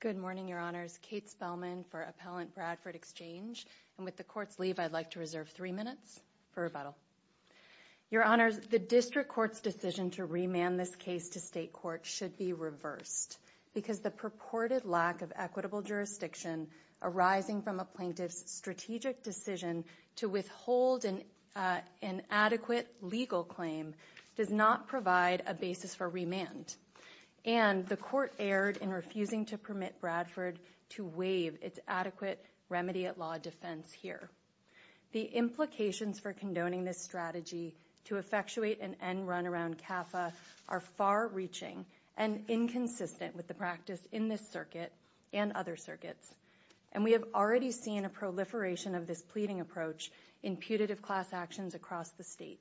Good morning, Your Honors. Kate Spellman for Appellant Bradford Exchange, and with the Court's leave, I'd like to reserve three minutes for rebuttal. Your Honors, the District Court's decision to remand this case to State Court should be reversed because the purported lack of equitable jurisdiction arising from a plaintiff's strategic decision to withhold an adequate legal claim does not provide a basis for remand, and the Court erred in refusing to permit Bradford to waive its adequate remedy-at-law defense here. The implications for condoning this strategy to effectuate an end-run around CAFA are far-reaching and inconsistent with the practice in this Circuit and other Circuits, and we have already seen a proliferation of this pleading approach in putative class actions across the State.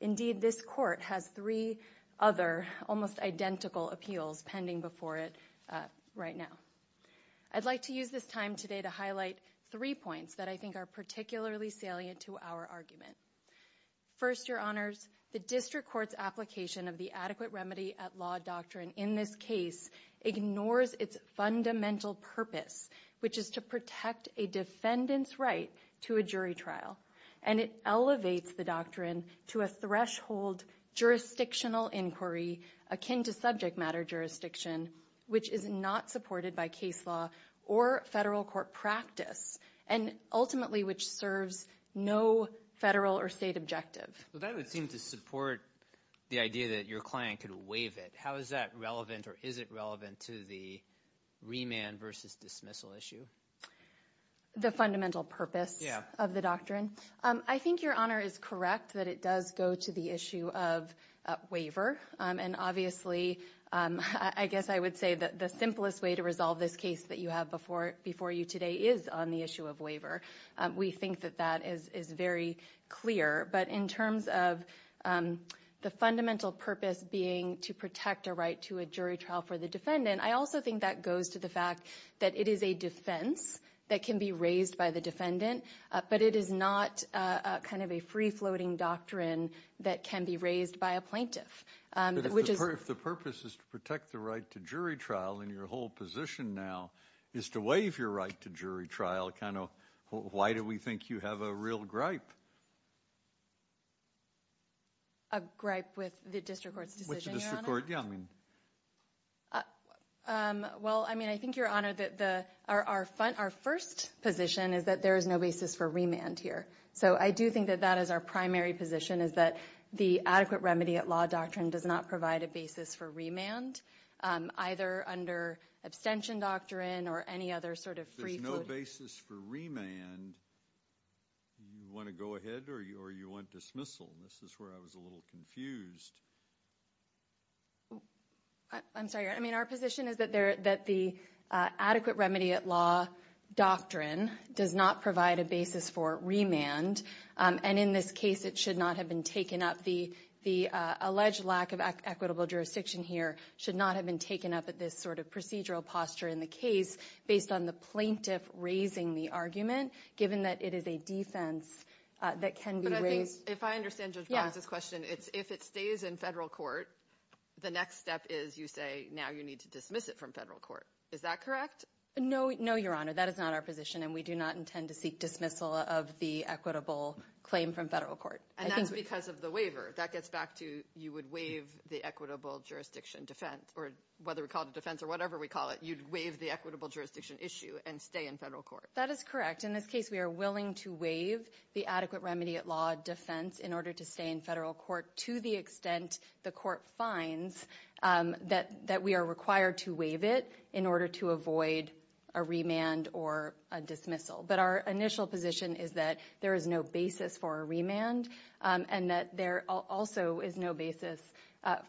Indeed, this Court has three other almost identical appeals pending before it right now. I'd like to use this time today to highlight three points that I think are particularly salient to our argument. First, Your Honors, the District Court's application of the adequate remedy-at-law doctrine in this case ignores its fundamental purpose, which is to protect a defendant's right to a jury trial, and it elevates the doctrine to a threshold jurisdictional inquiry akin to subject-matter jurisdiction, which is not supported by case law or Federal Court practice and ultimately which serves no Federal or State objective. Well, that would seem to support the idea that your client could waive it. How is that relevant, or is it relevant, to the remand versus dismissal issue? The fundamental purpose of the doctrine? I think Your Honor is correct that it does go to the issue of waiver, and obviously, I guess I would say that the simplest way to resolve this case that you have before you today is on the issue of waiver. We think that that is very clear, but in terms of the fundamental purpose being to protect a right to a jury trial for the defendant, I also think that goes to the fact that it is a defense that can be raised by the defendant, but it is not kind of a free-floating doctrine that can be raised by a plaintiff, which is... If the purpose is to protect the right to jury trial, and your whole position now is to waive your right to jury trial, kind of, why do we think you have a real gripe? A gripe with the District Court's decision, Your Honor? With the District Court, yeah, I mean... Well, I mean, I think, Your Honor, that our first position is that there is no basis for remand here. So I do think that that is our primary position, is that the adequate remedy at law doctrine does not provide a basis for remand, either under abstention doctrine or any other sort of free-floating... There's no basis for remand? You want to go ahead, or you want dismissal? This is where I was a little confused. I'm sorry, Your Honor, I mean, our position is that the adequate remedy at law doctrine does not provide a basis for remand, and in this case, it should not have been taken up. The alleged lack of equitable jurisdiction here should not have been taken up at this sort of procedural posture in the case, based on the plaintiff raising the argument, given that it is a defense that can be raised... If I understand Judge Boggs' question, it's if it stays in federal court, the next step is you say, now you need to dismiss it from federal court. Is that correct? No, Your Honor, that is not our position, and we do not intend to seek dismissal of the equitable claim from federal court. And that's because of the waiver. That gets back to, you would waive the equitable jurisdiction defense, or whether we call it a defense or whatever we call it, you'd waive the equitable jurisdiction issue and stay in federal court. That is correct. In this case, we are willing to waive the adequate remedy at law defense in order to stay in federal court, to the extent the court finds that we are required to waive it in order to avoid a remand or a dismissal. But our initial position is that there is no basis for a remand, and that there also is no basis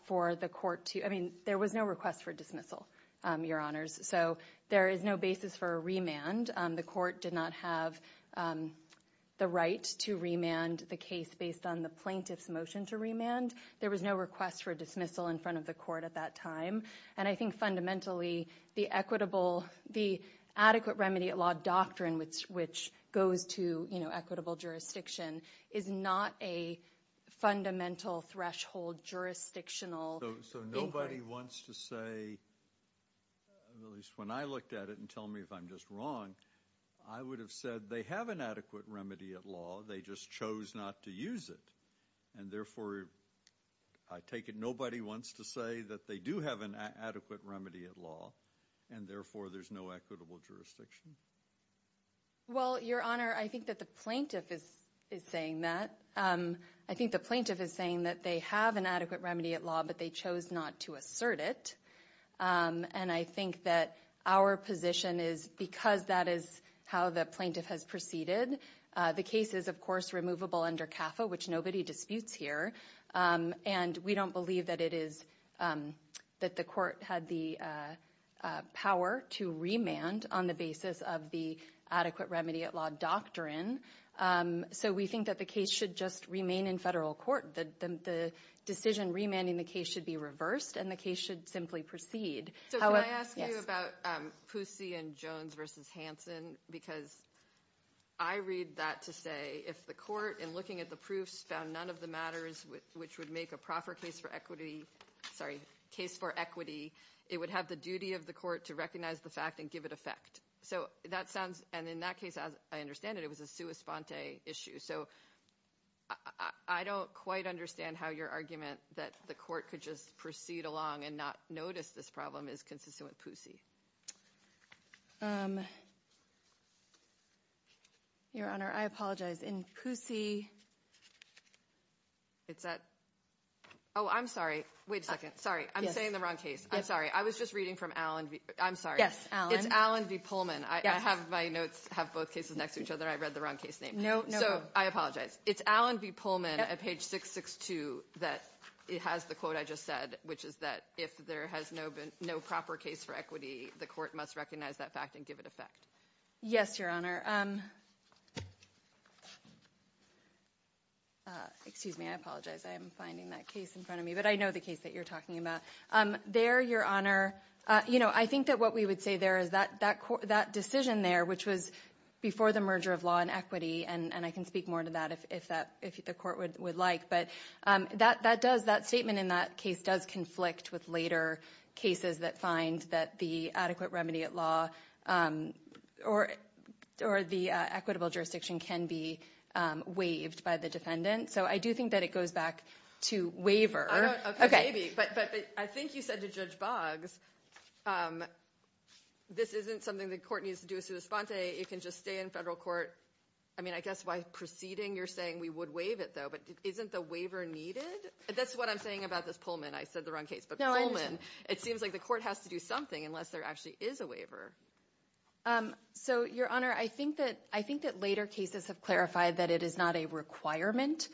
for the court to... There was no request for dismissal, Your Honors, so there is no basis for a remand. The court did not have the right to remand the case based on the plaintiff's motion to There was no request for dismissal in front of the court at that time. And I think fundamentally, the equitable... The adequate remedy at law doctrine, which goes to equitable jurisdiction, is not a fundamental threshold jurisdictional inquiry. So nobody wants to say, at least when I looked at it, and tell me if I'm just wrong, I would have said they have an adequate remedy at law, they just chose not to use it. And therefore, I take it nobody wants to say that they do have an adequate remedy at law, and therefore there's no equitable jurisdiction? Well, Your Honor, I think that the plaintiff is saying that. I think the plaintiff is saying that they have an adequate remedy at law, but they chose not to assert it. And I think that our position is, because that is how the plaintiff has proceeded, the case is, of course, removable under CAFA, which nobody disputes here. And we don't believe that it is... That the court had the power to remand on the basis of the adequate remedy at law doctrine. So we think that the case should just remain in federal court. The decision remanding the case should be reversed, and the case should simply proceed. However... So can I ask you about Poussey and Jones v. Hanson? Because I read that to say, if the court, in looking at the proofs, found none of the matters which would make a proper case for equity, sorry, case for equity, it would have the duty of the court to recognize the fact and give it effect. So that sounds... And in that case, as I understand it, it was a sua sponte issue. So I don't quite understand how your argument that the court could just proceed along and not notice this problem is consistent with Poussey. Your Honor, I apologize. In Poussey... It's at... Oh, I'm sorry. Wait a second. Sorry. I'm saying the wrong case. I'm sorry. I was just reading from Allen v.... I'm sorry. Yes, Allen. It's Allen v. Pullman. Yes. I have my notes, have both cases next to each other. I read the wrong case name. No, no. So I apologize. It's Allen v. Pullman at page 662 that has the quote I just said, which is that if there has been no proper case for equity, the court must recognize that fact and give it effect. Yes, Your Honor. Excuse me. I apologize. I am finding that case in front of me, but I know the case that you're talking about. There, Your Honor, I think that what we would say there is that decision there, which was before the merger of law and equity, and I can speak more to that if the court would like, but that statement in that case does conflict with later cases that find that the adequate remedy at law or the equitable jurisdiction can be waived by the defendant. So I do think that it goes back to waiver. Okay, maybe. But I think you said to Judge Boggs, this isn't something the court needs to do a sua sponte. It can just stay in federal court. I mean, I guess by proceeding, you're saying we would waive it, though, but isn't the waiver needed? That's what I'm saying about this Pullman. I said the wrong case, but Pullman, it seems like the court has to do something unless there actually is a waiver. So Your Honor, I think that later cases have clarified that it is not a requirement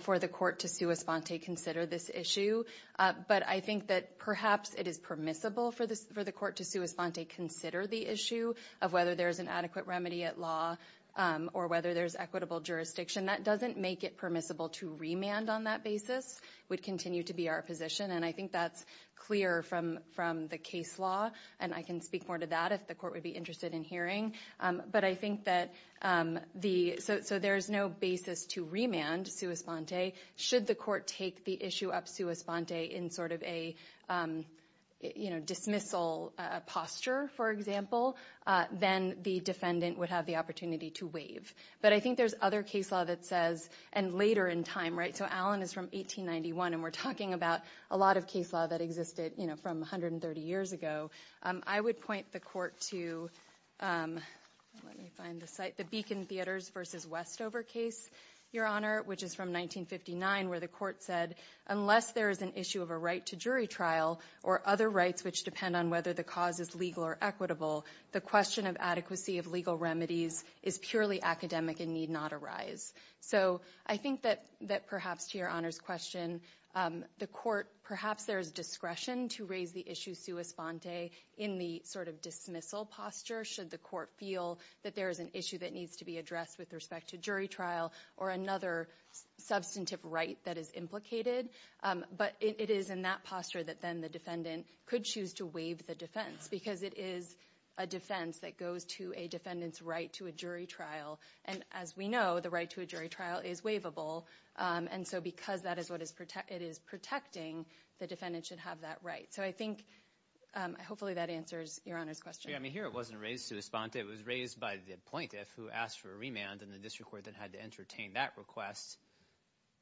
for the court to sua sponte consider this issue. But I think that perhaps it is permissible for the court to sua sponte consider the issue of whether there's an adequate remedy at law or whether there's equitable jurisdiction. That doesn't make it permissible to remand on that basis, would continue to be our position, and I think that's clear from the case law, and I can speak more to that if the court would be interested in hearing. But I think that so there's no basis to remand sua sponte should the court take the issue of sua sponte in sort of a dismissal posture, for example, then the defendant would have the opportunity to waive. But I think there's other case law that says, and later in time, right, so Allen is from 1891, and we're talking about a lot of case law that existed from 130 years ago. I would point the court to, let me find the site, the Beacon Theaters v. Westover case, Your Honor, which is from 1959 where the court said, unless there is an issue of a right to jury trial or other rights which depend on whether the cause is legal or equitable, the question of adequacy of legal remedies is purely academic and need not arise. So I think that perhaps to Your Honor's question, the court, perhaps there is discretion to raise the issue sua sponte in the sort of dismissal posture should the court feel that there is an issue that needs to be addressed with respect to jury trial or another substantive right that is implicated. But it is in that posture that then the defendant could choose to waive the defense because it is a defense that goes to a defendant's right to a jury trial. And as we know, the right to a jury trial is waivable. And so because that is what it is protecting, the defendant should have that right. So I think hopefully that answers Your Honor's question. I mean, here it wasn't raised sua sponte, it was raised by the plaintiff who asked for a remand and the district court that had to entertain that request.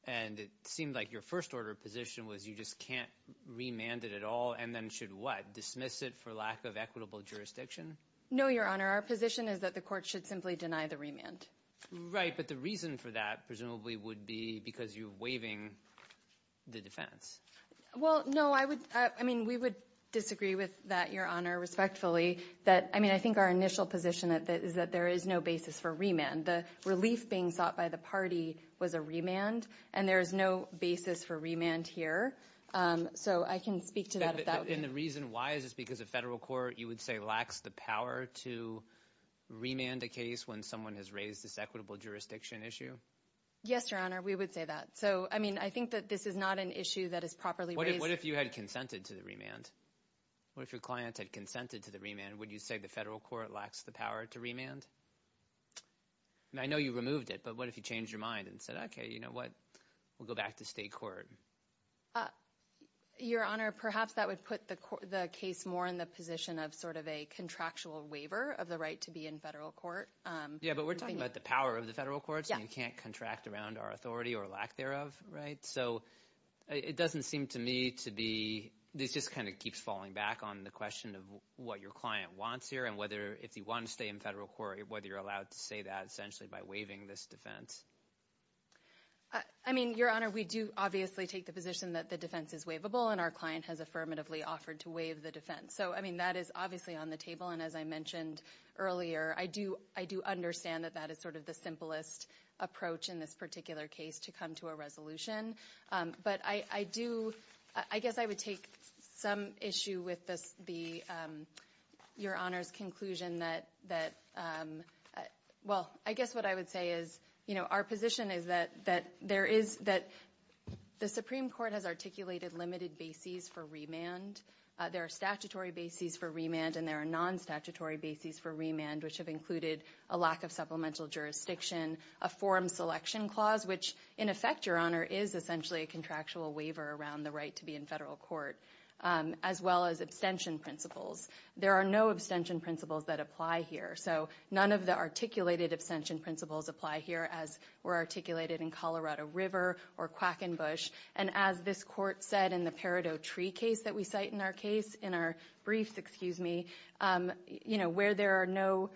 And it seemed like your first order of position was you just can't remand it at all and then should what, dismiss it for lack of equitable jurisdiction? No Your Honor. Our position is that the court should simply deny the remand. Right. But the reason for that presumably would be because you're waiving the defense. Well, no, I would, I mean, we would disagree with that, Your Honor, respectfully. That I mean, I think our initial position is that there is no basis for remand. The relief being sought by the party was a remand and there is no basis for remand here. So I can speak to that. And the reason why is because the federal court, you would say, lacks the power to remand a case when someone has raised this equitable jurisdiction issue? Yes, Your Honor. We would say that. So, I mean, I think that this is not an issue that is properly raised. What if you had consented to the remand? What if your client had consented to the remand, would you say the federal court lacks the power to remand? I know you removed it, but what if you changed your mind and said, OK, you know what, we'll go back to state court? Your Honor, perhaps that would put the case more in the position of sort of a contractual waiver of the right to be in federal court. Yeah, but we're talking about the power of the federal courts. You can't contract around our authority or lack thereof, right? So it doesn't seem to me to be, this just kind of keeps falling back on the question of what your client wants here and whether, if you want to stay in federal court, whether you're allowed to say that essentially by waiving this defense. I mean, Your Honor, we do obviously take the position that the defense is waivable and our client has affirmatively offered to waive the defense. So, I mean, that is obviously on the table and as I mentioned earlier, I do understand that that is sort of the simplest approach in this particular case to come to a resolution. But I do, I guess I would take some issue with your Honor's conclusion that, well, I guess what I would say is, you know, our position is that there is, that the Supreme Court has articulated limited bases for remand. There are statutory bases for remand and there are non-statutory bases for remand which have included a lack of supplemental jurisdiction, a forum selection clause, which in effect, Your Honor, is essentially a contractual waiver around the right to be in federal court, as well as abstention principles. There are no abstention principles that apply here. So none of the articulated abstention principles apply here as were articulated in Colorado River or Quackenbush. And as this court said in the Peridot Tree case that we cite in our case, in our brief, excuse me, you know, where there are no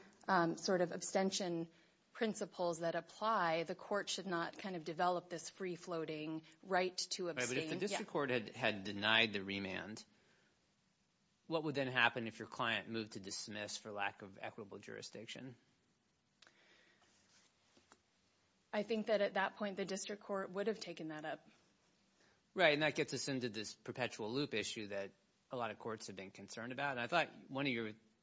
sort of abstention principles that apply, the court should not kind of develop this free-floating right to abstain. But if the district court had denied the remand, what would then happen if your client moved to dismiss for lack of equitable jurisdiction? I think that at that point, the district court would have taken that up. Right, and that gets us into this perpetual loop issue that a lot of courts have been concerned about. And I thought one of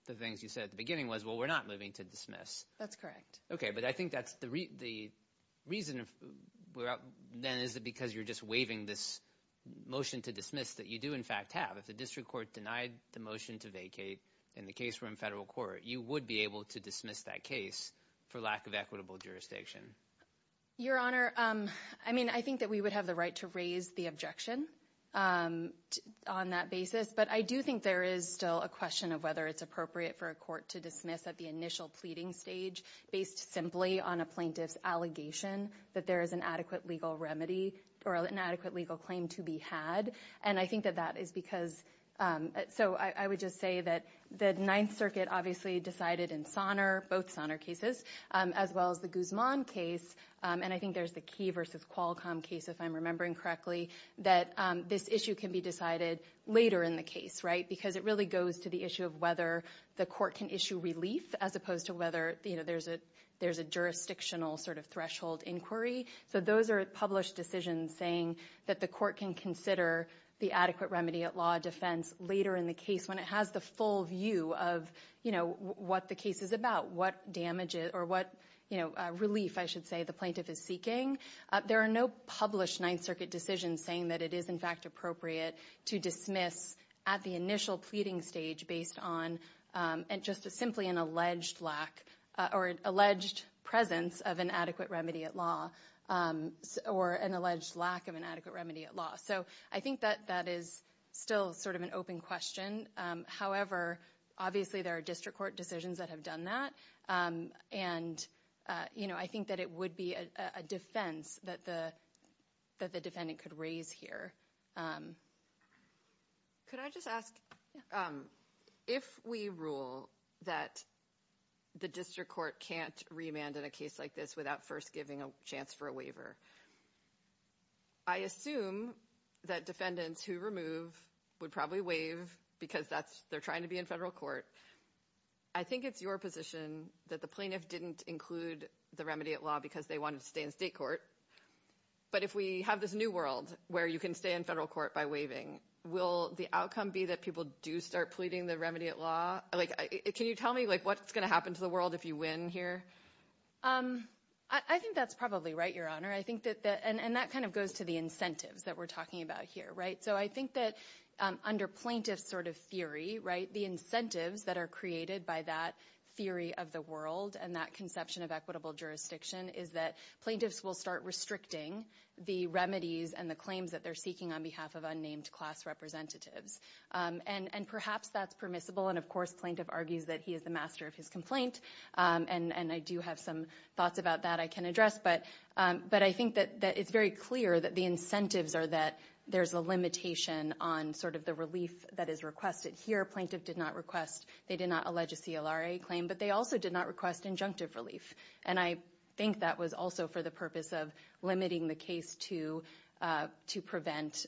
the things you said at the beginning was, well, we're not moving to dismiss. That's correct. Okay, but I think that's the reason then is because you're just waiving this motion to dismiss that you do in fact have. If the district court denied the motion to vacate in the case we're in federal court, you would be able to dismiss that case for lack of equitable jurisdiction. Your Honor, I mean, I think that we would have the right to raise the objection on that basis. But I do think there is still a question of whether it's appropriate for a court to dismiss at the initial pleading stage based simply on a plaintiff's allegation that there is an adequate legal remedy or an adequate legal claim to be had. And I think that that is because, so I would just say that the Ninth Circuit obviously decided in Sonner, both Sonner cases, as well as the Guzman case. And I think there's the Key v. Qualcomm case, if I'm remembering correctly, that this issue can be decided later in the case, right, because it really goes to the issue of whether the court can issue relief as opposed to whether there's a jurisdictional sort of threshold inquiry. So those are published decisions saying that the court can consider the adequate remedy at law defense later in the case when it has the full view of what the case is about, what damages or what relief, I should say, the plaintiff is seeking. There are no published Ninth Circuit decisions saying that it is, in fact, appropriate to dismiss at the initial pleading stage based on just simply an alleged lack or alleged presence of an adequate remedy at law or an alleged lack of an adequate remedy at law. So I think that that is still sort of an open question. However, obviously there are district court decisions that have done that. And, you know, I think that it would be a defense that the defendant could raise here. Could I just ask, if we rule that the district court can't remand in a case like this without first giving a chance for a waiver, I assume that defendants who remove would probably waive because they're trying to be in federal court. I think it's your position that the plaintiff didn't include the remedy at law because they wanted to stay in state court. But if we have this new world where you can stay in federal court by waiving, will the outcome be that people do start pleading the remedy at law? Like, can you tell me, like, what's going to happen to the world if you win here? I think that's probably right, Your Honor. I think that that and that kind of goes to the incentives that we're talking about here. So I think that under plaintiff's sort of theory, the incentives that are created by that theory of the world and that conception of equitable jurisdiction is that plaintiffs will start restricting the remedies and the claims that they're seeking on behalf of unnamed class representatives. And perhaps that's permissible. And, of course, plaintiff argues that he is the master of his complaint. And I do have some thoughts about that I can address. But I think that it's very clear that the incentives are that there's a limitation on sort of the relief that is requested here. Plaintiff did not request. They did not allege a CLRA claim, but they also did not request injunctive relief. And I think that was also for the purpose of limiting the case to prevent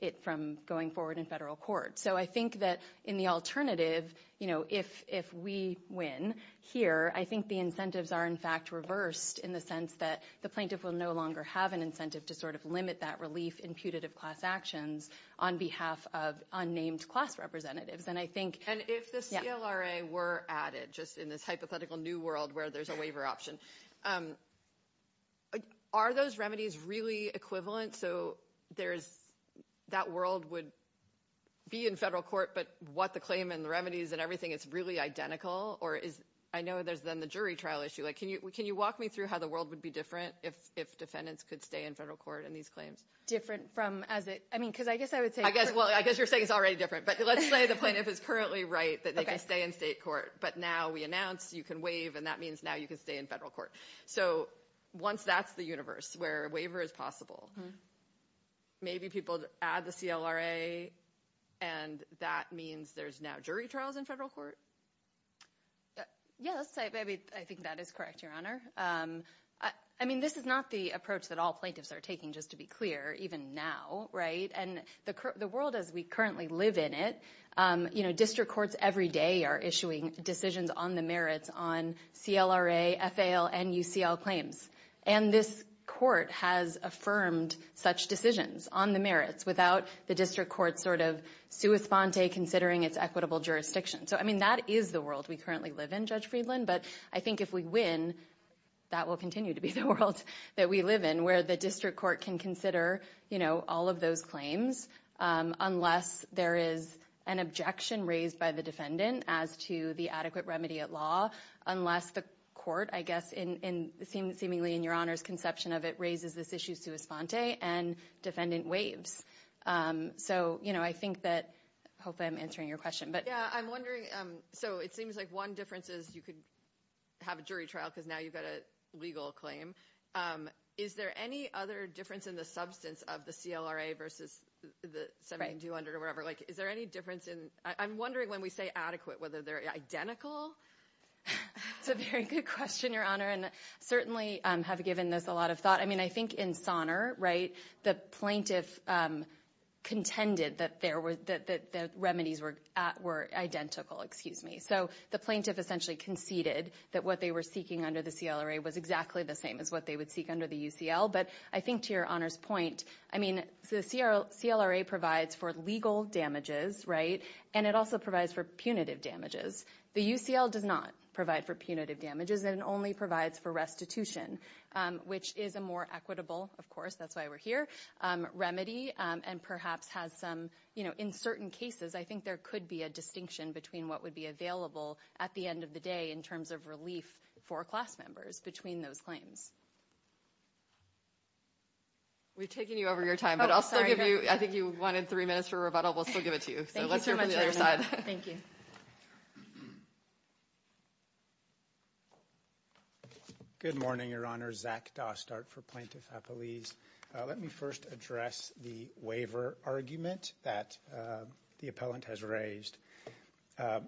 it from going forward in federal court. So I think that in the alternative, if we win here, I think the incentives are, in fact, reversed in the sense that the plaintiff will no longer have an incentive to sort of limit that relief imputative class actions on behalf of unnamed class representatives. And I think if the CLRA were added just in this hypothetical new world where there's a waiver option. Are those remedies really equivalent? So there's that world would be in federal court. But what the claim and the remedies and everything, it's really identical or is I know there's then the jury trial issue. Can you can you walk me through how the world would be different if defendants could stay in federal court in these claims? Different from as it I mean, because I guess I would say, I guess, well, I guess you're saying it's already different. But let's say the plaintiff is currently right that they can stay in state court. But now we announce you can waive and that means now you can stay in federal court. So once that's the universe where a waiver is possible. Maybe people add the CLRA and that means there's now jury trials in federal court. Yes, I think that is correct, Your Honor. I mean, this is not the approach that all plaintiffs are taking, just to be clear, even now. Right. And the world as we currently live in it, you know, district courts every day are issuing decisions on the merits on CLRA, FAO and UCL claims. And this court has affirmed such decisions on the merits without the district court sort of sui sponte considering its equitable jurisdiction. So, I mean, that is the world we currently live in, Judge Friedland. But I think if we win, that will continue to be the world that we live in, where the district court can consider, you know, all of those claims unless there is an objection raised by the defendant as to the adequate remedy at law, unless the court, I guess, in seemingly in Your Honor's conception of it, raises this issue sui sponte and defendant waives. So, you know, I think that I hope I'm answering your question. Yeah, I'm wondering. So it seems like one difference is you could have a jury trial because now you've got a legal claim. Is there any other difference in the substance of the CLRA versus the 7200 or whatever? Like, is there any difference in I'm wondering when we say adequate, whether they're identical? It's a very good question, Your Honor, and certainly have given this a lot of thought. I mean, I think in Sonner, right, the plaintiff contended that there were that the were identical, excuse me. So the plaintiff essentially conceded that what they were seeking under the CLRA was exactly the same as what they would seek under the UCL. But I think to Your Honor's point, I mean, the CLRA provides for legal damages. Right. And it also provides for punitive damages. The UCL does not provide for punitive damages and only provides for restitution, which is a more equitable, of course, that's why we're here, remedy and perhaps has some, you think there could be a distinction between what would be available at the end of the day in terms of relief for class members between those claims. We've taken you over your time, but I'll still give you, I think you wanted three minutes for rebuttal. We'll still give it to you. So let's hear from the other side. Thank you. Good morning, Your Honor. Zach Dostart for Plaintiff Appellees. Let me first address the waiver argument that the appellant has raised. The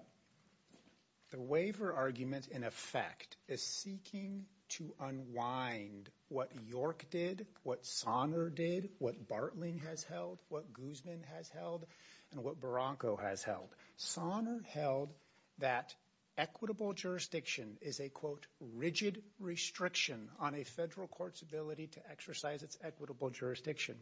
waiver argument, in effect, is seeking to unwind what York did, what Sonner did, what Bartling has held, what Guzman has held and what Barranco has held. Sonner held that equitable jurisdiction is a, quote, rigid restriction on a federal court's ability to exercise its equitable jurisdiction.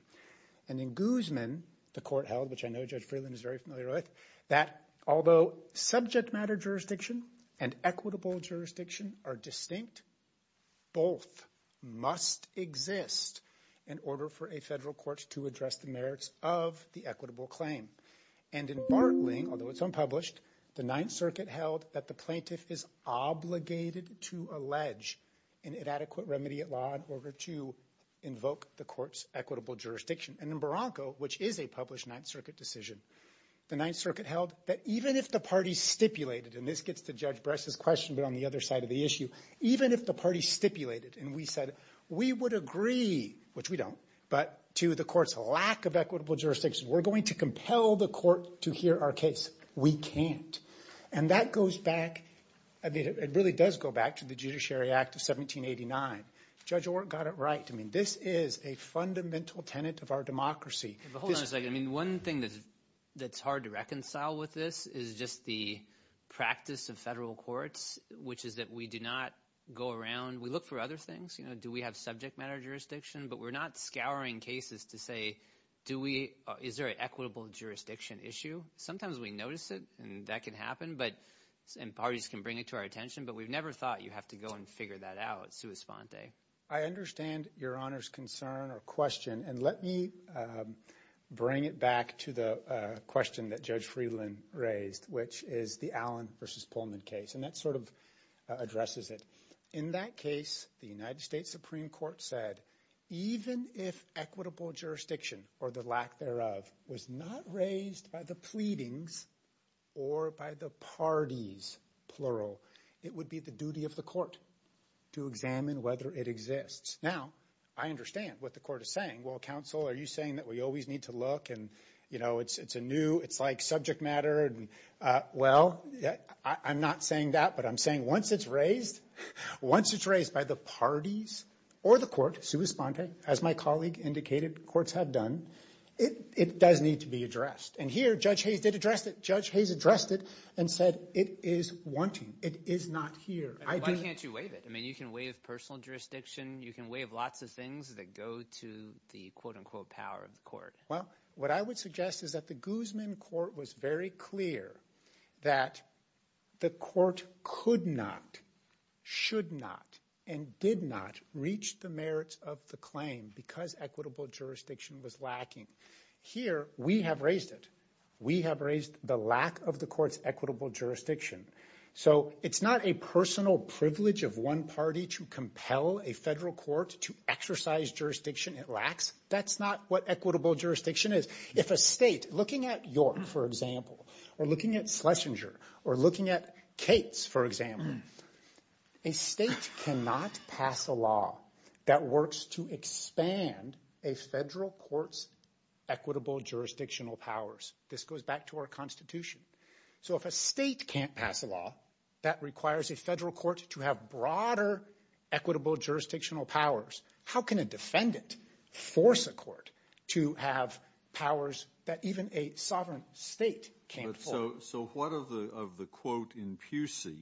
And in Guzman, the court held, which I know Judge Freeland is very familiar with, that although subject matter jurisdiction and equitable jurisdiction are distinct, both must exist in order for a federal court to address the merits of the equitable claim. And in Bartling, although it's unpublished, the Ninth Circuit held that the plaintiff is obligated to allege an inadequate remedy at law in order to invoke the court's equitable jurisdiction. And in Barranco, which is a published Ninth Circuit decision, the Ninth Circuit held that even if the party stipulated, and this gets to Judge Bress's question, but on the other side of the issue, even if the party stipulated and we said we would agree, which we don't, but to the court's lack of equitable jurisdiction, we're going to compel the court to hear our case. We can't. And that goes back, I mean, it really does go back to the Judiciary Act of 1789. Judge Orr got it right. I mean, this is a fundamental tenet of our democracy. Hold on a second. I mean, one thing that's hard to reconcile with this is just the practice of federal courts, which is that we do not go around, we look for other things. You know, do we have subject matter jurisdiction? But we're not scouring cases to say, do we, is there an equitable jurisdiction issue? Sometimes we notice it and that can happen, but, and parties can bring it to our attention. But we've never thought you have to go and figure that out, sua sponte. I understand Your Honor's concern or question. And let me bring it back to the question that Judge Friedland raised, which is the Allen versus Pullman case. And that sort of addresses it. In that case, the United States Supreme Court said even if equitable jurisdiction or the act thereof was not raised by the pleadings or by the parties, plural, it would be the duty of the court to examine whether it exists. Now, I understand what the court is saying. Well, counsel, are you saying that we always need to look and, you know, it's a new, it's like subject matter. Well, I'm not saying that, but I'm saying once it's raised, once it's raised by the parties or the court, sua sponte, as my colleague indicated, courts have done, it does need to be addressed. And here, Judge Hayes did address it. Judge Hayes addressed it and said it is wanting. It is not here. And why can't you waive it? I mean, you can waive personal jurisdiction. You can waive lots of things that go to the, quote unquote, power of the court. Well, what I would suggest is that the Guzman court was very clear that the court could not, should not, and did not reach the merits of the claim because equitable jurisdiction was Here, we have raised it. We have raised the lack of the court's equitable jurisdiction. So it's not a personal privilege of one party to compel a federal court to exercise jurisdiction it lacks. That's not what equitable jurisdiction is. If a state, looking at York, for example, or looking at Schlesinger or looking at Cates, for example, a state cannot pass a law that works to expand a federal court's equitable jurisdictional powers. This goes back to our Constitution. So if a state can't pass a law that requires a federal court to have broader equitable jurisdictional powers, how can a defendant force a court to have powers that even a sovereign state can't hold? So what of the quote in Pusey,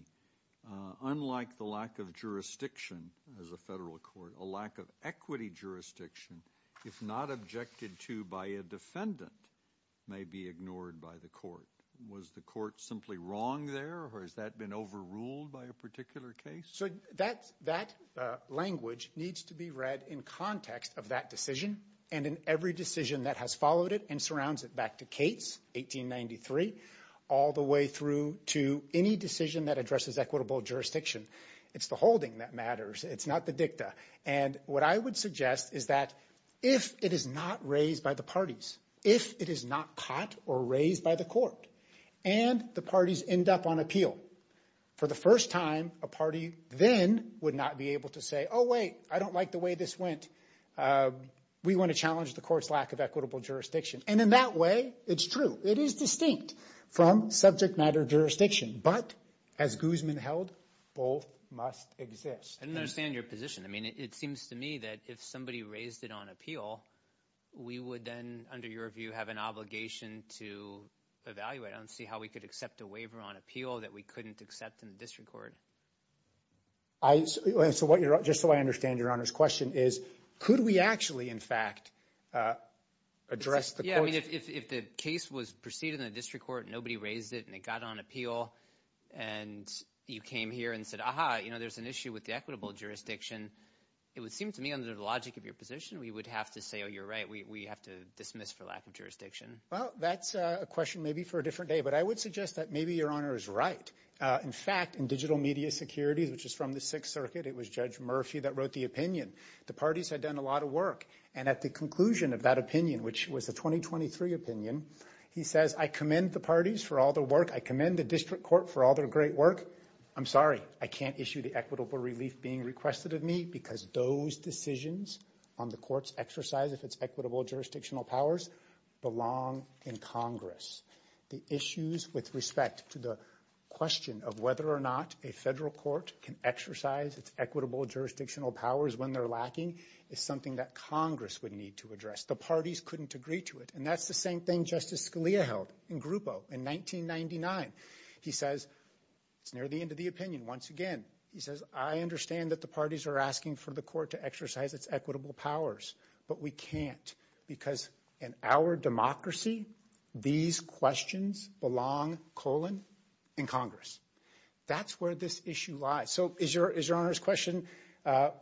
unlike the lack of jurisdiction as a federal court, a lack of equity jurisdiction, if not objected to by a defendant, may be ignored by the court. Was the court simply wrong there or has that been overruled by a particular case? So that language needs to be read in context of that decision and in every decision that has followed it and surrounds it back to Cates, 1893, all the way through to any decision that addresses equitable jurisdiction. It's the holding that matters. It's not the dicta. And what I would suggest is that if it is not raised by the parties, if it is not caught or raised by the court and the parties end up on appeal for the first time, a party then would not be able to say, oh, wait, I don't like the way this went. We want to challenge the court's lack of equitable jurisdiction. And in that way, it's true. It is distinct from subject matter jurisdiction. But as Guzman held, both must exist. I don't understand your position. I mean, it seems to me that if somebody raised it on appeal, we would then, under your view, have an obligation to evaluate and see how we could accept a waiver on appeal that we couldn't accept in the district court. I so what you're just so I understand your honor's question is, could we actually, in fact, address the. Yeah, I mean, if the case was proceeded in the district court, nobody raised it and it got on appeal and you came here and said, aha, you know, there's an issue with the equitable jurisdiction. It would seem to me under the logic of your position, we would have to say, oh, you're right. We have to dismiss for lack of jurisdiction. Well, that's a question maybe for a different day. But I would suggest that maybe your honor is right. In fact, in digital media security, which is from the Sixth Circuit, it was Judge Murphy that wrote the opinion. The parties had done a lot of work. And at the conclusion of that opinion, which was a 2023 opinion, he says, I commend the parties for all the work. I commend the district court for all their great work. I'm sorry, I can't issue the equitable relief being requested of me because those decisions on the court's exercise, if it's equitable jurisdictional powers, belong in Congress. The issues with respect to the question of whether or not a federal court can exercise its equitable jurisdictional powers when they're lacking is something that Congress would need to address. The parties couldn't agree to it. And that's the same thing Justice Scalia held in Grupo in 1999. He says it's near the end of the opinion. Once again, he says, I understand that the parties are asking for the court to exercise its equitable powers, but we can't. Because in our democracy, these questions belong, colon, in Congress. That's where this issue lies. So is your is your honor's question to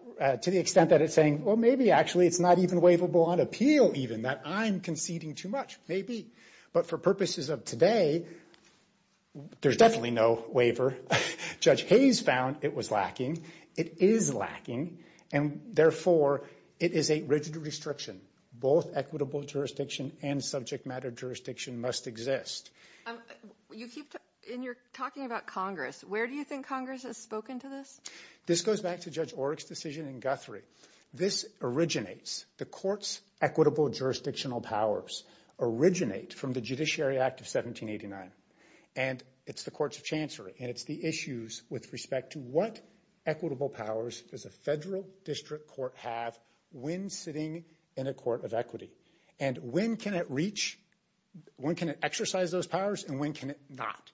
the extent that it's saying, well, maybe actually it's not even waivable on appeal even that I'm conceding too much, maybe. But for purposes of today, there's definitely no waiver. Judge Hayes found it was lacking. It is lacking. And therefore, it is a rigid restriction. Both equitable jurisdiction and subject matter jurisdiction must exist. You keep talking about Congress. Where do you think Congress has spoken to this? This goes back to Judge Orrick's decision in Guthrie. This originates the court's equitable jurisdictional powers originate from the Judiciary Act of 1789. And it's the courts of chancery. And it's the issues with respect to what equitable powers does a federal district court have when sitting in a court of equity? And when can it reach, when can it exercise those powers and when can it not?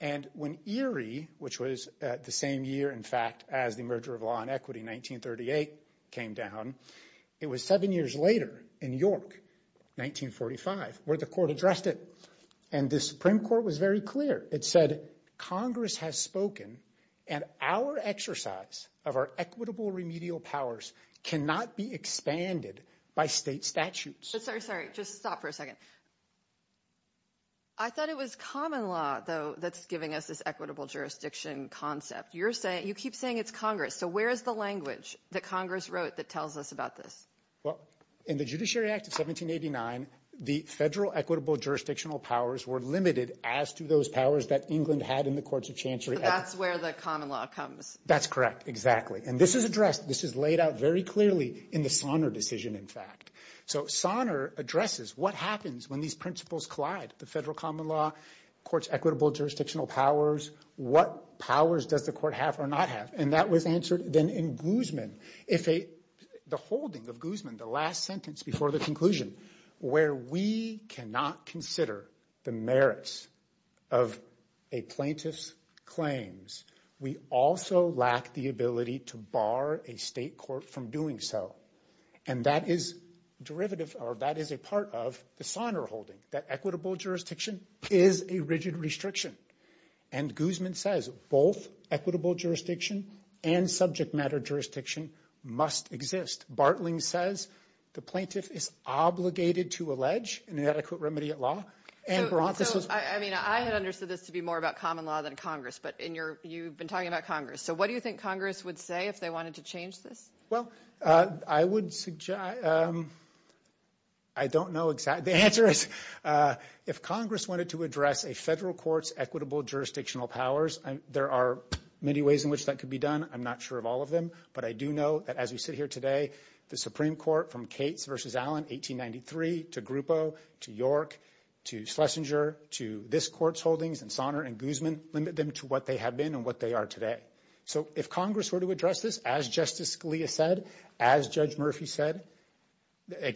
And when Erie, which was the same year, in fact, as the merger of law and equity, 1938, came down, it was seven years later in York, 1945, where the court addressed it. And the Supreme Court was very clear. It said Congress has spoken and our exercise of our equitable remedial powers cannot be expanded by state statutes. Sorry, sorry. Just stop for a second. I thought it was common law, though, that's giving us this equitable jurisdiction concept. You're saying you keep saying it's Congress. So where is the language that Congress wrote that tells us about this? Well, in the Judiciary Act of 1789, the federal equitable jurisdictional powers were limited as to those powers that England had in the courts of chancery. That's where the common law comes. That's correct. Exactly. And this is addressed. This is laid out very clearly in the Sonner decision, in fact. So Sonner addresses what happens when these principles collide the federal common law courts, equitable jurisdictional powers. What powers does the court have or not have? And that was answered then in Guzman. If the holding of Guzman, the last sentence before the conclusion where we cannot consider the merits of a plaintiff's claims, we also lack the ability to bar a state court from doing so. And that is derivative or that is a part of the Sonner holding that equitable jurisdiction is a rigid restriction. And Guzman says both equitable jurisdiction and subject matter jurisdiction must exist. Bartling says the plaintiff is obligated to allege an adequate remedy at law. And I mean, I had understood this to be more about common law than Congress. But in your you've been talking about Congress. So what do you think Congress would say if they wanted to change this? Well, I would suggest. I don't know exactly the answer is if Congress wanted to address a federal court's equitable jurisdictional powers, and there are many ways in which that could be done. I'm not sure of all of them, but I do know that as we sit here today, the Supreme Court from Cates versus Allen 1893 to Grupo, to York, to Schlesinger, to this court's holdings and Sonner and Guzman limit them to what they have been and what they are today. So if Congress were to address this, as Justice Scalia said, as Judge Murphy said,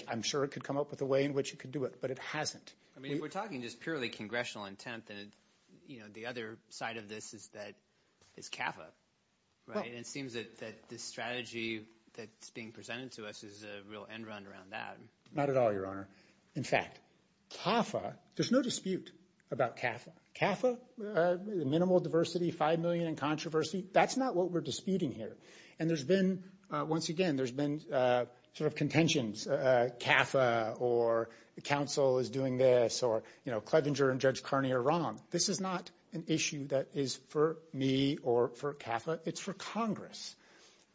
I'm sure it could come up with a way in which you could do it, but it hasn't. I mean, we're talking just purely congressional intent that, you know, the other side of this is that is CAFA, right? And it seems that this strategy that's being presented to us is a real end run around that. Not at all, Your Honor. In fact, CAFA, there's no dispute about CAFA. CAFA, the minimal diversity, five million in controversy, that's not what we're disputing here. And there's been, once again, there's been sort of contentions. CAFA or the council is doing this or, you know, Clevenger and Judge Carney are wrong. This is not an issue that is for me or for CAFA. It's for Congress.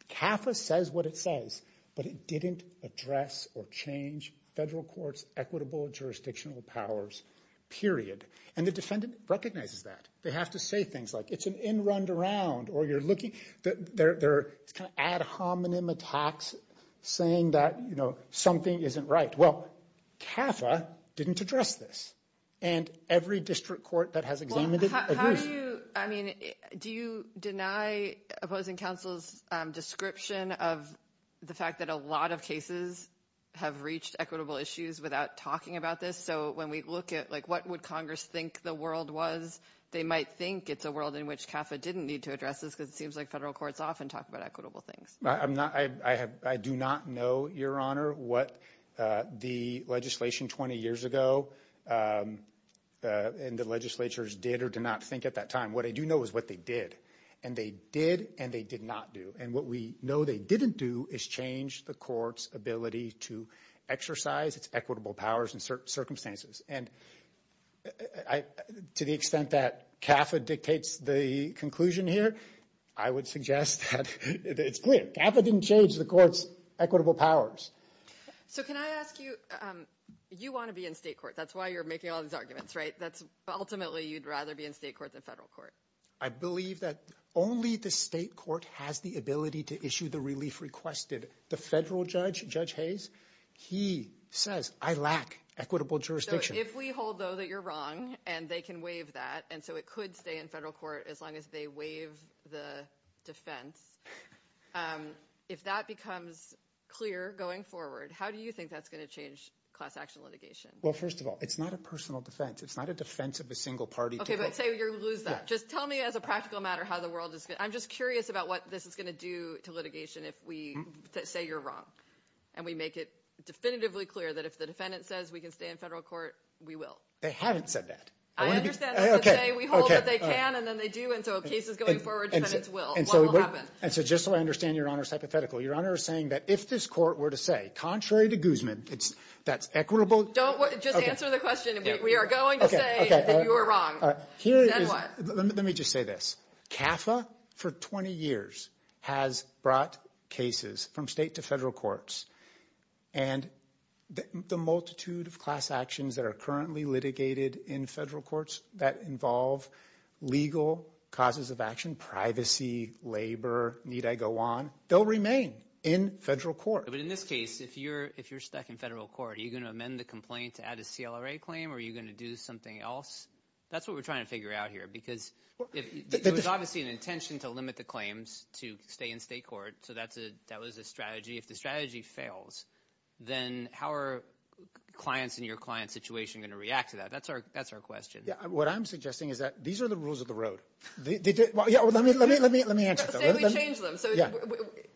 CAFA says what it says, but it didn't address or change federal courts' equitable jurisdictional powers. Period. And the defendant recognizes that. They have to say things like, it's an end run around, or you're looking, they're kind of ad hominem attacks saying that, you know, something isn't right. Well, CAFA didn't address this. And every district court that has examined it, agrees. I mean, do you deny opposing counsel's description of the fact that a lot of cases have reached equitable issues without talking about this? So when we look at, like, what would Congress think the world was? They might think it's a world in which CAFA didn't need to address this, because it seems like federal courts often talk about equitable things. I'm not, I have, I do not know, Your Honor, what the legislation 20 years ago and the legislatures did or did not think at that time. What I do know is what they did and they did and they did not do. And what we know they didn't do is change the court's ability to exercise its equitable powers in certain circumstances. And I, to the extent that CAFA dictates the conclusion here, I would suggest that it's clear. CAFA didn't change the court's equitable powers. So can I ask you, you want to be in state court. That's why you're making all these arguments, right? That's ultimately you'd rather be in state court than federal court. I believe that only the state court has the ability to issue the relief requested. The federal judge, Judge Hayes, he says, I lack equitable jurisdiction. So if we hold, though, that you're wrong and they can waive that, and so it could stay in federal court as long as they waive the defense. If that becomes clear going forward, how do you think that's going to change class action litigation? Well, first of all, it's not a personal defense. It's not a defense of a single party. Okay, but say you lose that. Just tell me as a practical matter how the world is going, I'm just curious about what this is going to do to litigation if we say you're wrong. And we make it definitively clear that if the defendant says we can stay in federal court, we will. They haven't said that. I understand. Okay. We hold that they can and then they do. And so if the case is going forward, defendants will. What will happen? And so just so I understand Your Honor's hypothetical, Your Honor is saying that if this court were to say, contrary to Guzman, that's equitable. Don't, just answer the question. We are going to say that you are wrong. Then what? Let me just say this. CAFA for 20 years has brought cases from state to federal courts. And the multitude of class actions that are currently litigated in federal courts that involve legal causes of action, privacy, labor, need I go on, they'll remain in federal court. But in this case, if you're stuck in federal court, are you going to amend the complaint to add a CLRA claim or are you going to do something else? That's what we're trying to figure out here because it was obviously an intention to limit the claims to stay in state court. So that was a strategy. If the strategy fails, then how are clients in your client's situation going to react to that? That's our question. Yeah. What I'm suggesting is that these are the rules of the road. They did, well, yeah, let me answer that. Let's say we change them. So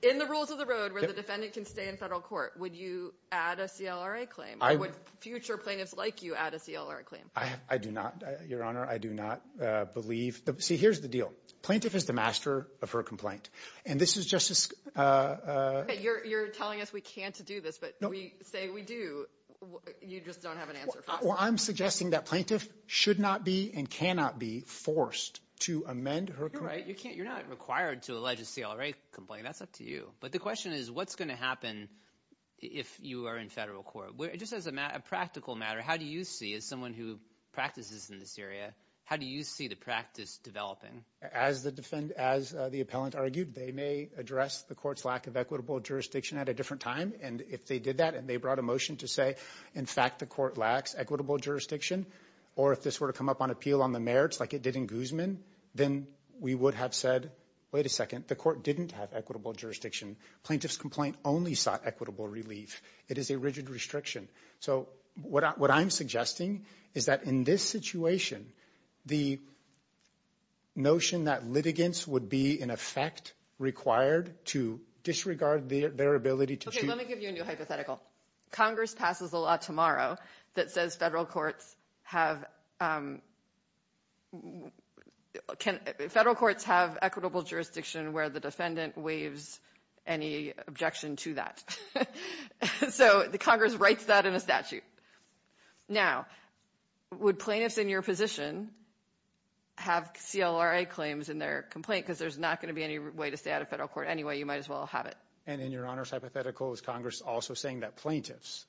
in the rules of the road where the defendant can stay in federal court, would you add a CLRA claim? Or would future plaintiffs like you add a CLRA claim? I do not, Your Honor. I do not believe. See, here's the deal. Plaintiff is the master of her complaint. And this is just as... Okay, you're telling us we can't do this, but we say we do. You just don't have an answer for us. Well, I'm suggesting that plaintiff should not be and cannot be forced to amend her... You're right. You can't. You're not required to allege a CLRA complaint. That's up to you. But the question is what's going to happen if you are in federal court? Just as a practical matter, how do you see, as someone who practices in this area, how do you see the practice developing? As the defendant, as the appellant argued, they may address the court's lack of equitable jurisdiction at a different time. And if they did that and they brought a motion to say, in fact, the court lacks equitable jurisdiction, or if this were to come up on appeal on the merits like it did in Guzman, then we would have said, wait a second, the court didn't have equitable jurisdiction. Plaintiff's complaint only sought equitable relief. It is a rigid restriction. So what I'm suggesting is that in this situation, the notion that litigants would be, in effect, required to disregard their ability to... Okay, let me give you a new hypothetical. Congress passes a law tomorrow that says federal courts have... Federal courts have equitable jurisdiction where the defendant waives any objection to that. So the Congress writes that in a statute. Now, would plaintiffs in your position have CLRA claims in their complaint? Because there's not going to be any way to stay out of federal court anyway. You might as well have it. And in Your Honor's hypothetical, is Congress also saying that plaintiffs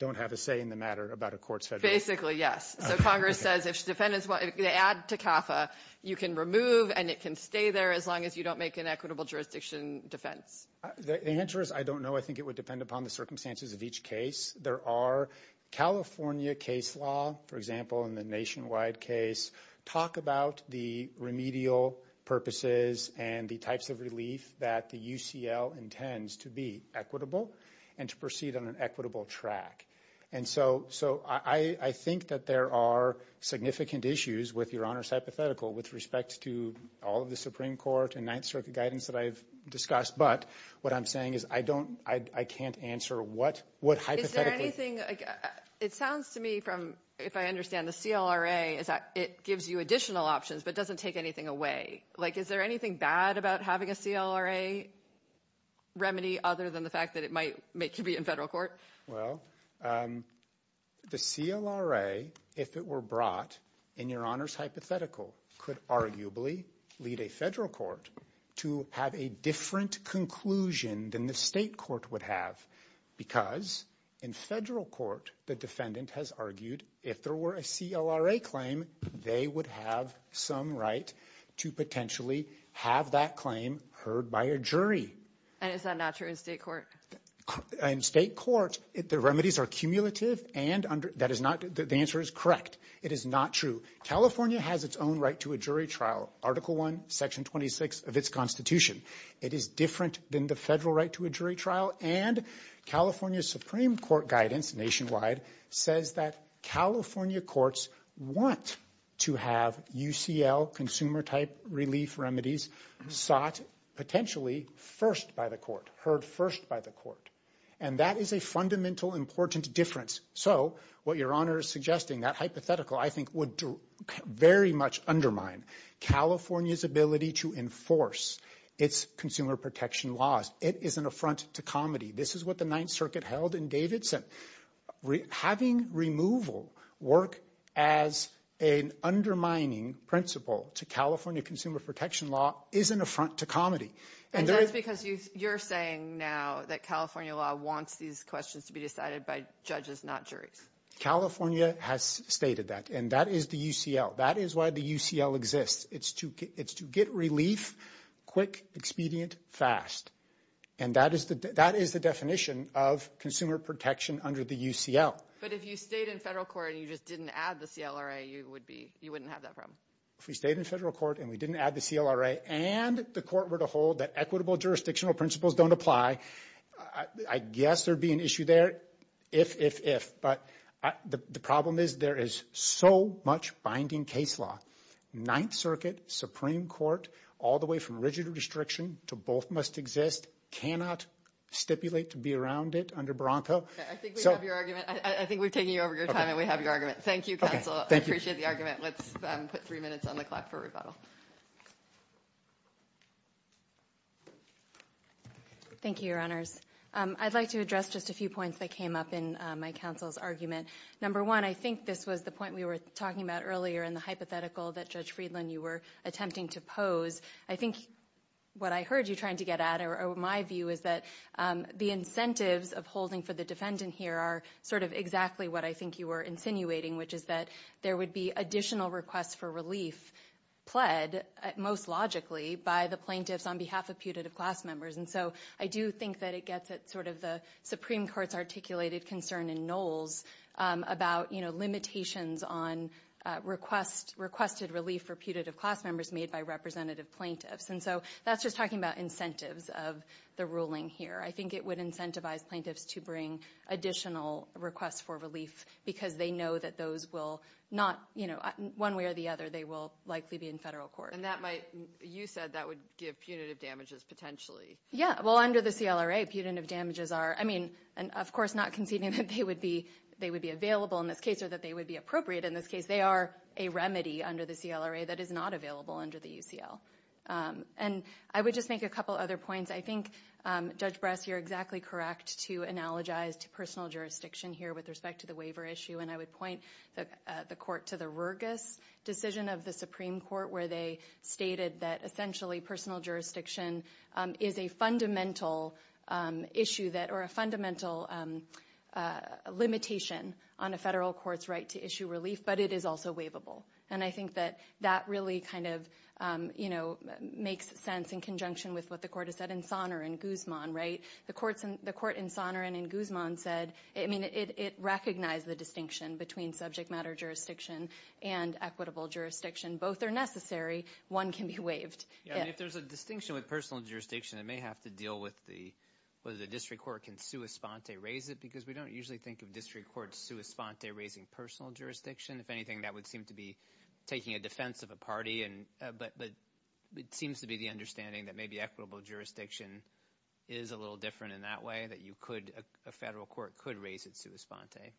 don't have a say in the matter about a court's federal... Basically, yes. So Congress says if defendants want to add to CAFA, you can remove and it can stay there as long as you don't make an equitable jurisdiction defense. The answer is I don't know. I think it would depend upon the circumstances of each case. There are California case law, for example, in the nationwide case, talk about the remedial purposes and the types of relief that the UCL intends to be equitable and to proceed on an equitable track. And so I think that there are significant issues with Your Honor's hypothetical with respect to all of the Supreme Court and Ninth Circuit guidance that I've discussed. But what I'm saying is I don't... I can't answer what hypothetically... Is there anything... It sounds to me from... If I understand, the CLRA is that it gives you additional options, but doesn't take anything away. Like, is there anything bad about having a CLRA remedy other than the fact that it might make you be in federal court? Well, the CLRA, if it were brought in Your Honor's hypothetical, arguably lead a federal court to have a different conclusion than the state court would have. Because in federal court, the defendant has argued if there were a CLRA claim, they would have some right to potentially have that claim heard by a jury. And is that not true in state court? In state court, the remedies are cumulative and under... That is not... The answer is correct. It is not true. California has its own right to a jury trial. Article 1, Section 26 of its constitution. It is different than the federal right to a jury trial. And California Supreme Court guidance nationwide says that California courts want to have UCL consumer-type relief remedies sought potentially first by the court, heard first by the court. And that is a fundamental, important difference. So what Your Honor is suggesting, that hypothetical, I think, would very much undermine California's ability to enforce its consumer protection laws. It is an affront to comedy. This is what the Ninth Circuit held in Davidson. Having removal work as an undermining principle to California consumer protection law is an affront to comedy. And that's because you're saying now that California law wants these questions to be California has stated that. And that is the UCL. That is why the UCL exists. It's to get relief quick, expedient, fast. And that is the definition of consumer protection under the UCL. But if you stayed in federal court and you just didn't add the CLRA, you would be... You wouldn't have that problem. If we stayed in federal court and we didn't add the CLRA and the court were to hold that equitable jurisdictional principles don't apply, I guess there'd be an issue there. If, if, if. But the problem is there is so much binding case law. Ninth Circuit, Supreme Court, all the way from rigid restriction to both must exist, cannot stipulate to be around it under Bronco. I think we have your argument. I think we've taken you over your time and we have your argument. Thank you, counsel. I appreciate the argument. Let's put three minutes on the clock for rebuttal. Thank you, Your Honors. I'd like to address just a few points that came up in my counsel's argument. Number one, I think this was the point we were talking about earlier in the hypothetical that Judge Friedland, you were attempting to pose. I think what I heard you trying to get at or my view is that the incentives of holding for the defendant here are sort of exactly what I think you were insinuating, which is that there would be additional requests for relief pled most logically by the plaintiffs on behalf of putative class members. And so I do think that it gets at sort of the Supreme Court's articulated concern in Knowles about limitations on requested relief for putative class members made by representative plaintiffs. And so that's just talking about incentives of the ruling here. I think it would incentivize plaintiffs to bring additional requests for relief because they know that those will not, one way or the other, they will likely be in federal court. And that might, you said that would give punitive damages potentially. Yeah. Well, under the CLRA, punitive damages are, I mean, and of course, not conceding that they would be available in this case or that they would be appropriate in this case. They are a remedy under the CLRA that is not available under the UCL. And I would just make a couple other points. I think, Judge Bress, you're exactly correct to analogize to personal jurisdiction here with respect to the waiver issue. And I would point the court to the Rergis decision of the Supreme Court, where they stated that essentially personal jurisdiction is a fundamental issue that or a fundamental limitation on a federal court's right to issue relief, but it is also waivable. And I think that that really kind of, you know, makes sense in conjunction with what the court has said in Sonner and Guzman, right? The court in Sonner and in Guzman said, I mean, it recognized the distinction between subject matter jurisdiction and equitable jurisdiction. Both are necessary. One can be waived. Yeah. If there's a distinction with personal jurisdiction, it may have to deal with the, whether the district court can sua sponte raise it, because we don't usually think of district courts sua sponte raising personal jurisdiction. If anything, that would seem to be taking a defense of a party. But it seems to be the understanding that maybe equitable jurisdiction is a little different in that way, that you could, a federal court could raise it sua sponte.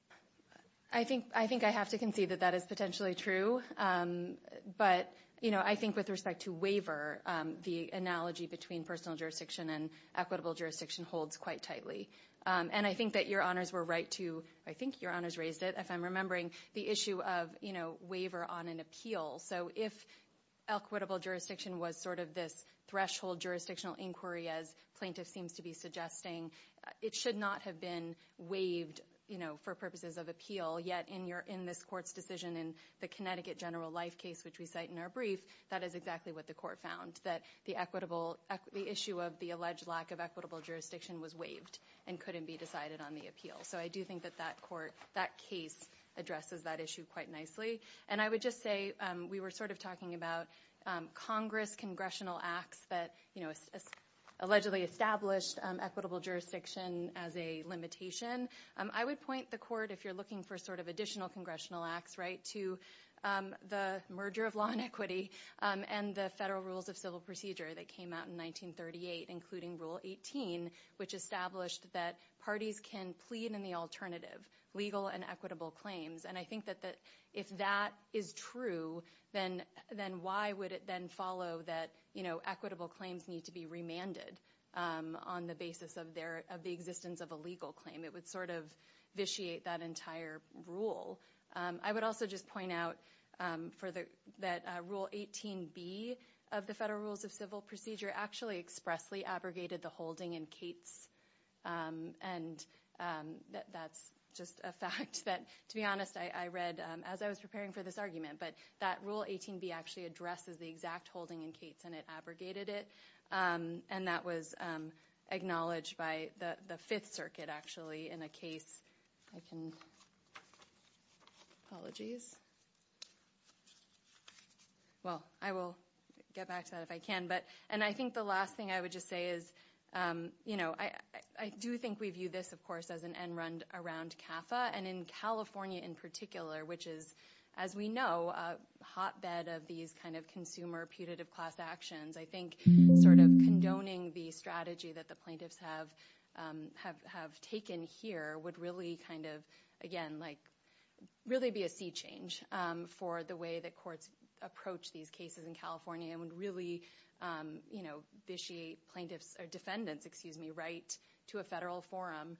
I think, I think I have to concede that that is potentially true. But, you know, I think with respect to waiver, the analogy between personal jurisdiction and equitable jurisdiction holds quite tightly. And I think that your honors were right to, I think your honors raised it, if I'm remembering, the issue of, you know, waiver on an appeal. So if equitable jurisdiction was sort of this threshold jurisdictional inquiry, as plaintiff seems to be suggesting, it should not have been waived, you know, for purposes of appeal. Yet in your, in this court's decision in the Connecticut general life case, which we cite in our brief, that is exactly what the court found. That the equitable, the issue of the alleged lack of equitable jurisdiction was waived and couldn't be decided on the appeal. So I do think that that court, that case addresses that issue quite nicely. And I would just say, we were sort of talking about Congress congressional acts that, you know, allegedly established equitable jurisdiction as a limitation. I would point the court, if you're looking for sort of additional congressional acts, right, to the merger of law and equity and the federal rules of civil procedure that came out in 1938, including rule 18, which established that parties can plead in the alternative, legal and equitable claims. And I think that if that is true, then why would it then follow that, you know, equitable claims need to be remanded on the basis of their, of the existence of a legal claim? It would sort of vitiate that entire rule. I would also just point out for the, that rule 18B of the federal rules of civil procedure actually expressly abrogated the holding in Cates. And that's just a fact that, to be honest, I read as I was preparing for this argument, but that rule 18B actually addresses the exact holding in Cates and it abrogated it. And that was acknowledged by the Fifth Circuit, actually, in a case I can, apologies. Well, I will get back to that if I can, but, and I think the last thing I would just say is, you know, I do think we view this, of course, as an end run around CAFA and in California, in particular, which is, as we know, a hotbed of these kind of consumer putative class actions. I think sort of condoning the strategy that the plaintiffs have taken here would really kind of, again, like, really be a sea change for the way that courts approach these cases in California and would really, you know, vitiate plaintiffs, or defendants, excuse me, right to a federal forum.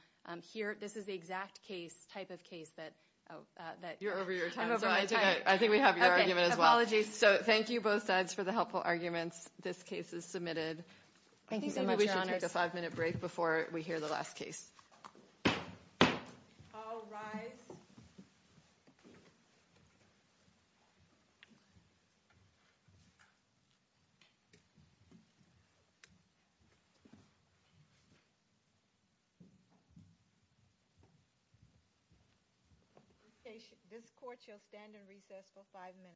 Here, this is the exact case, type of case that, oh, that- You're over your time. I'm over my time. I think we have your argument as well. So thank you both sides for the helpful arguments. This case is submitted. Thank you so much, Your Honor. I think we should take a five-minute break before we hear the last case. All rise. Okay, this court shall stand in recess for five minutes.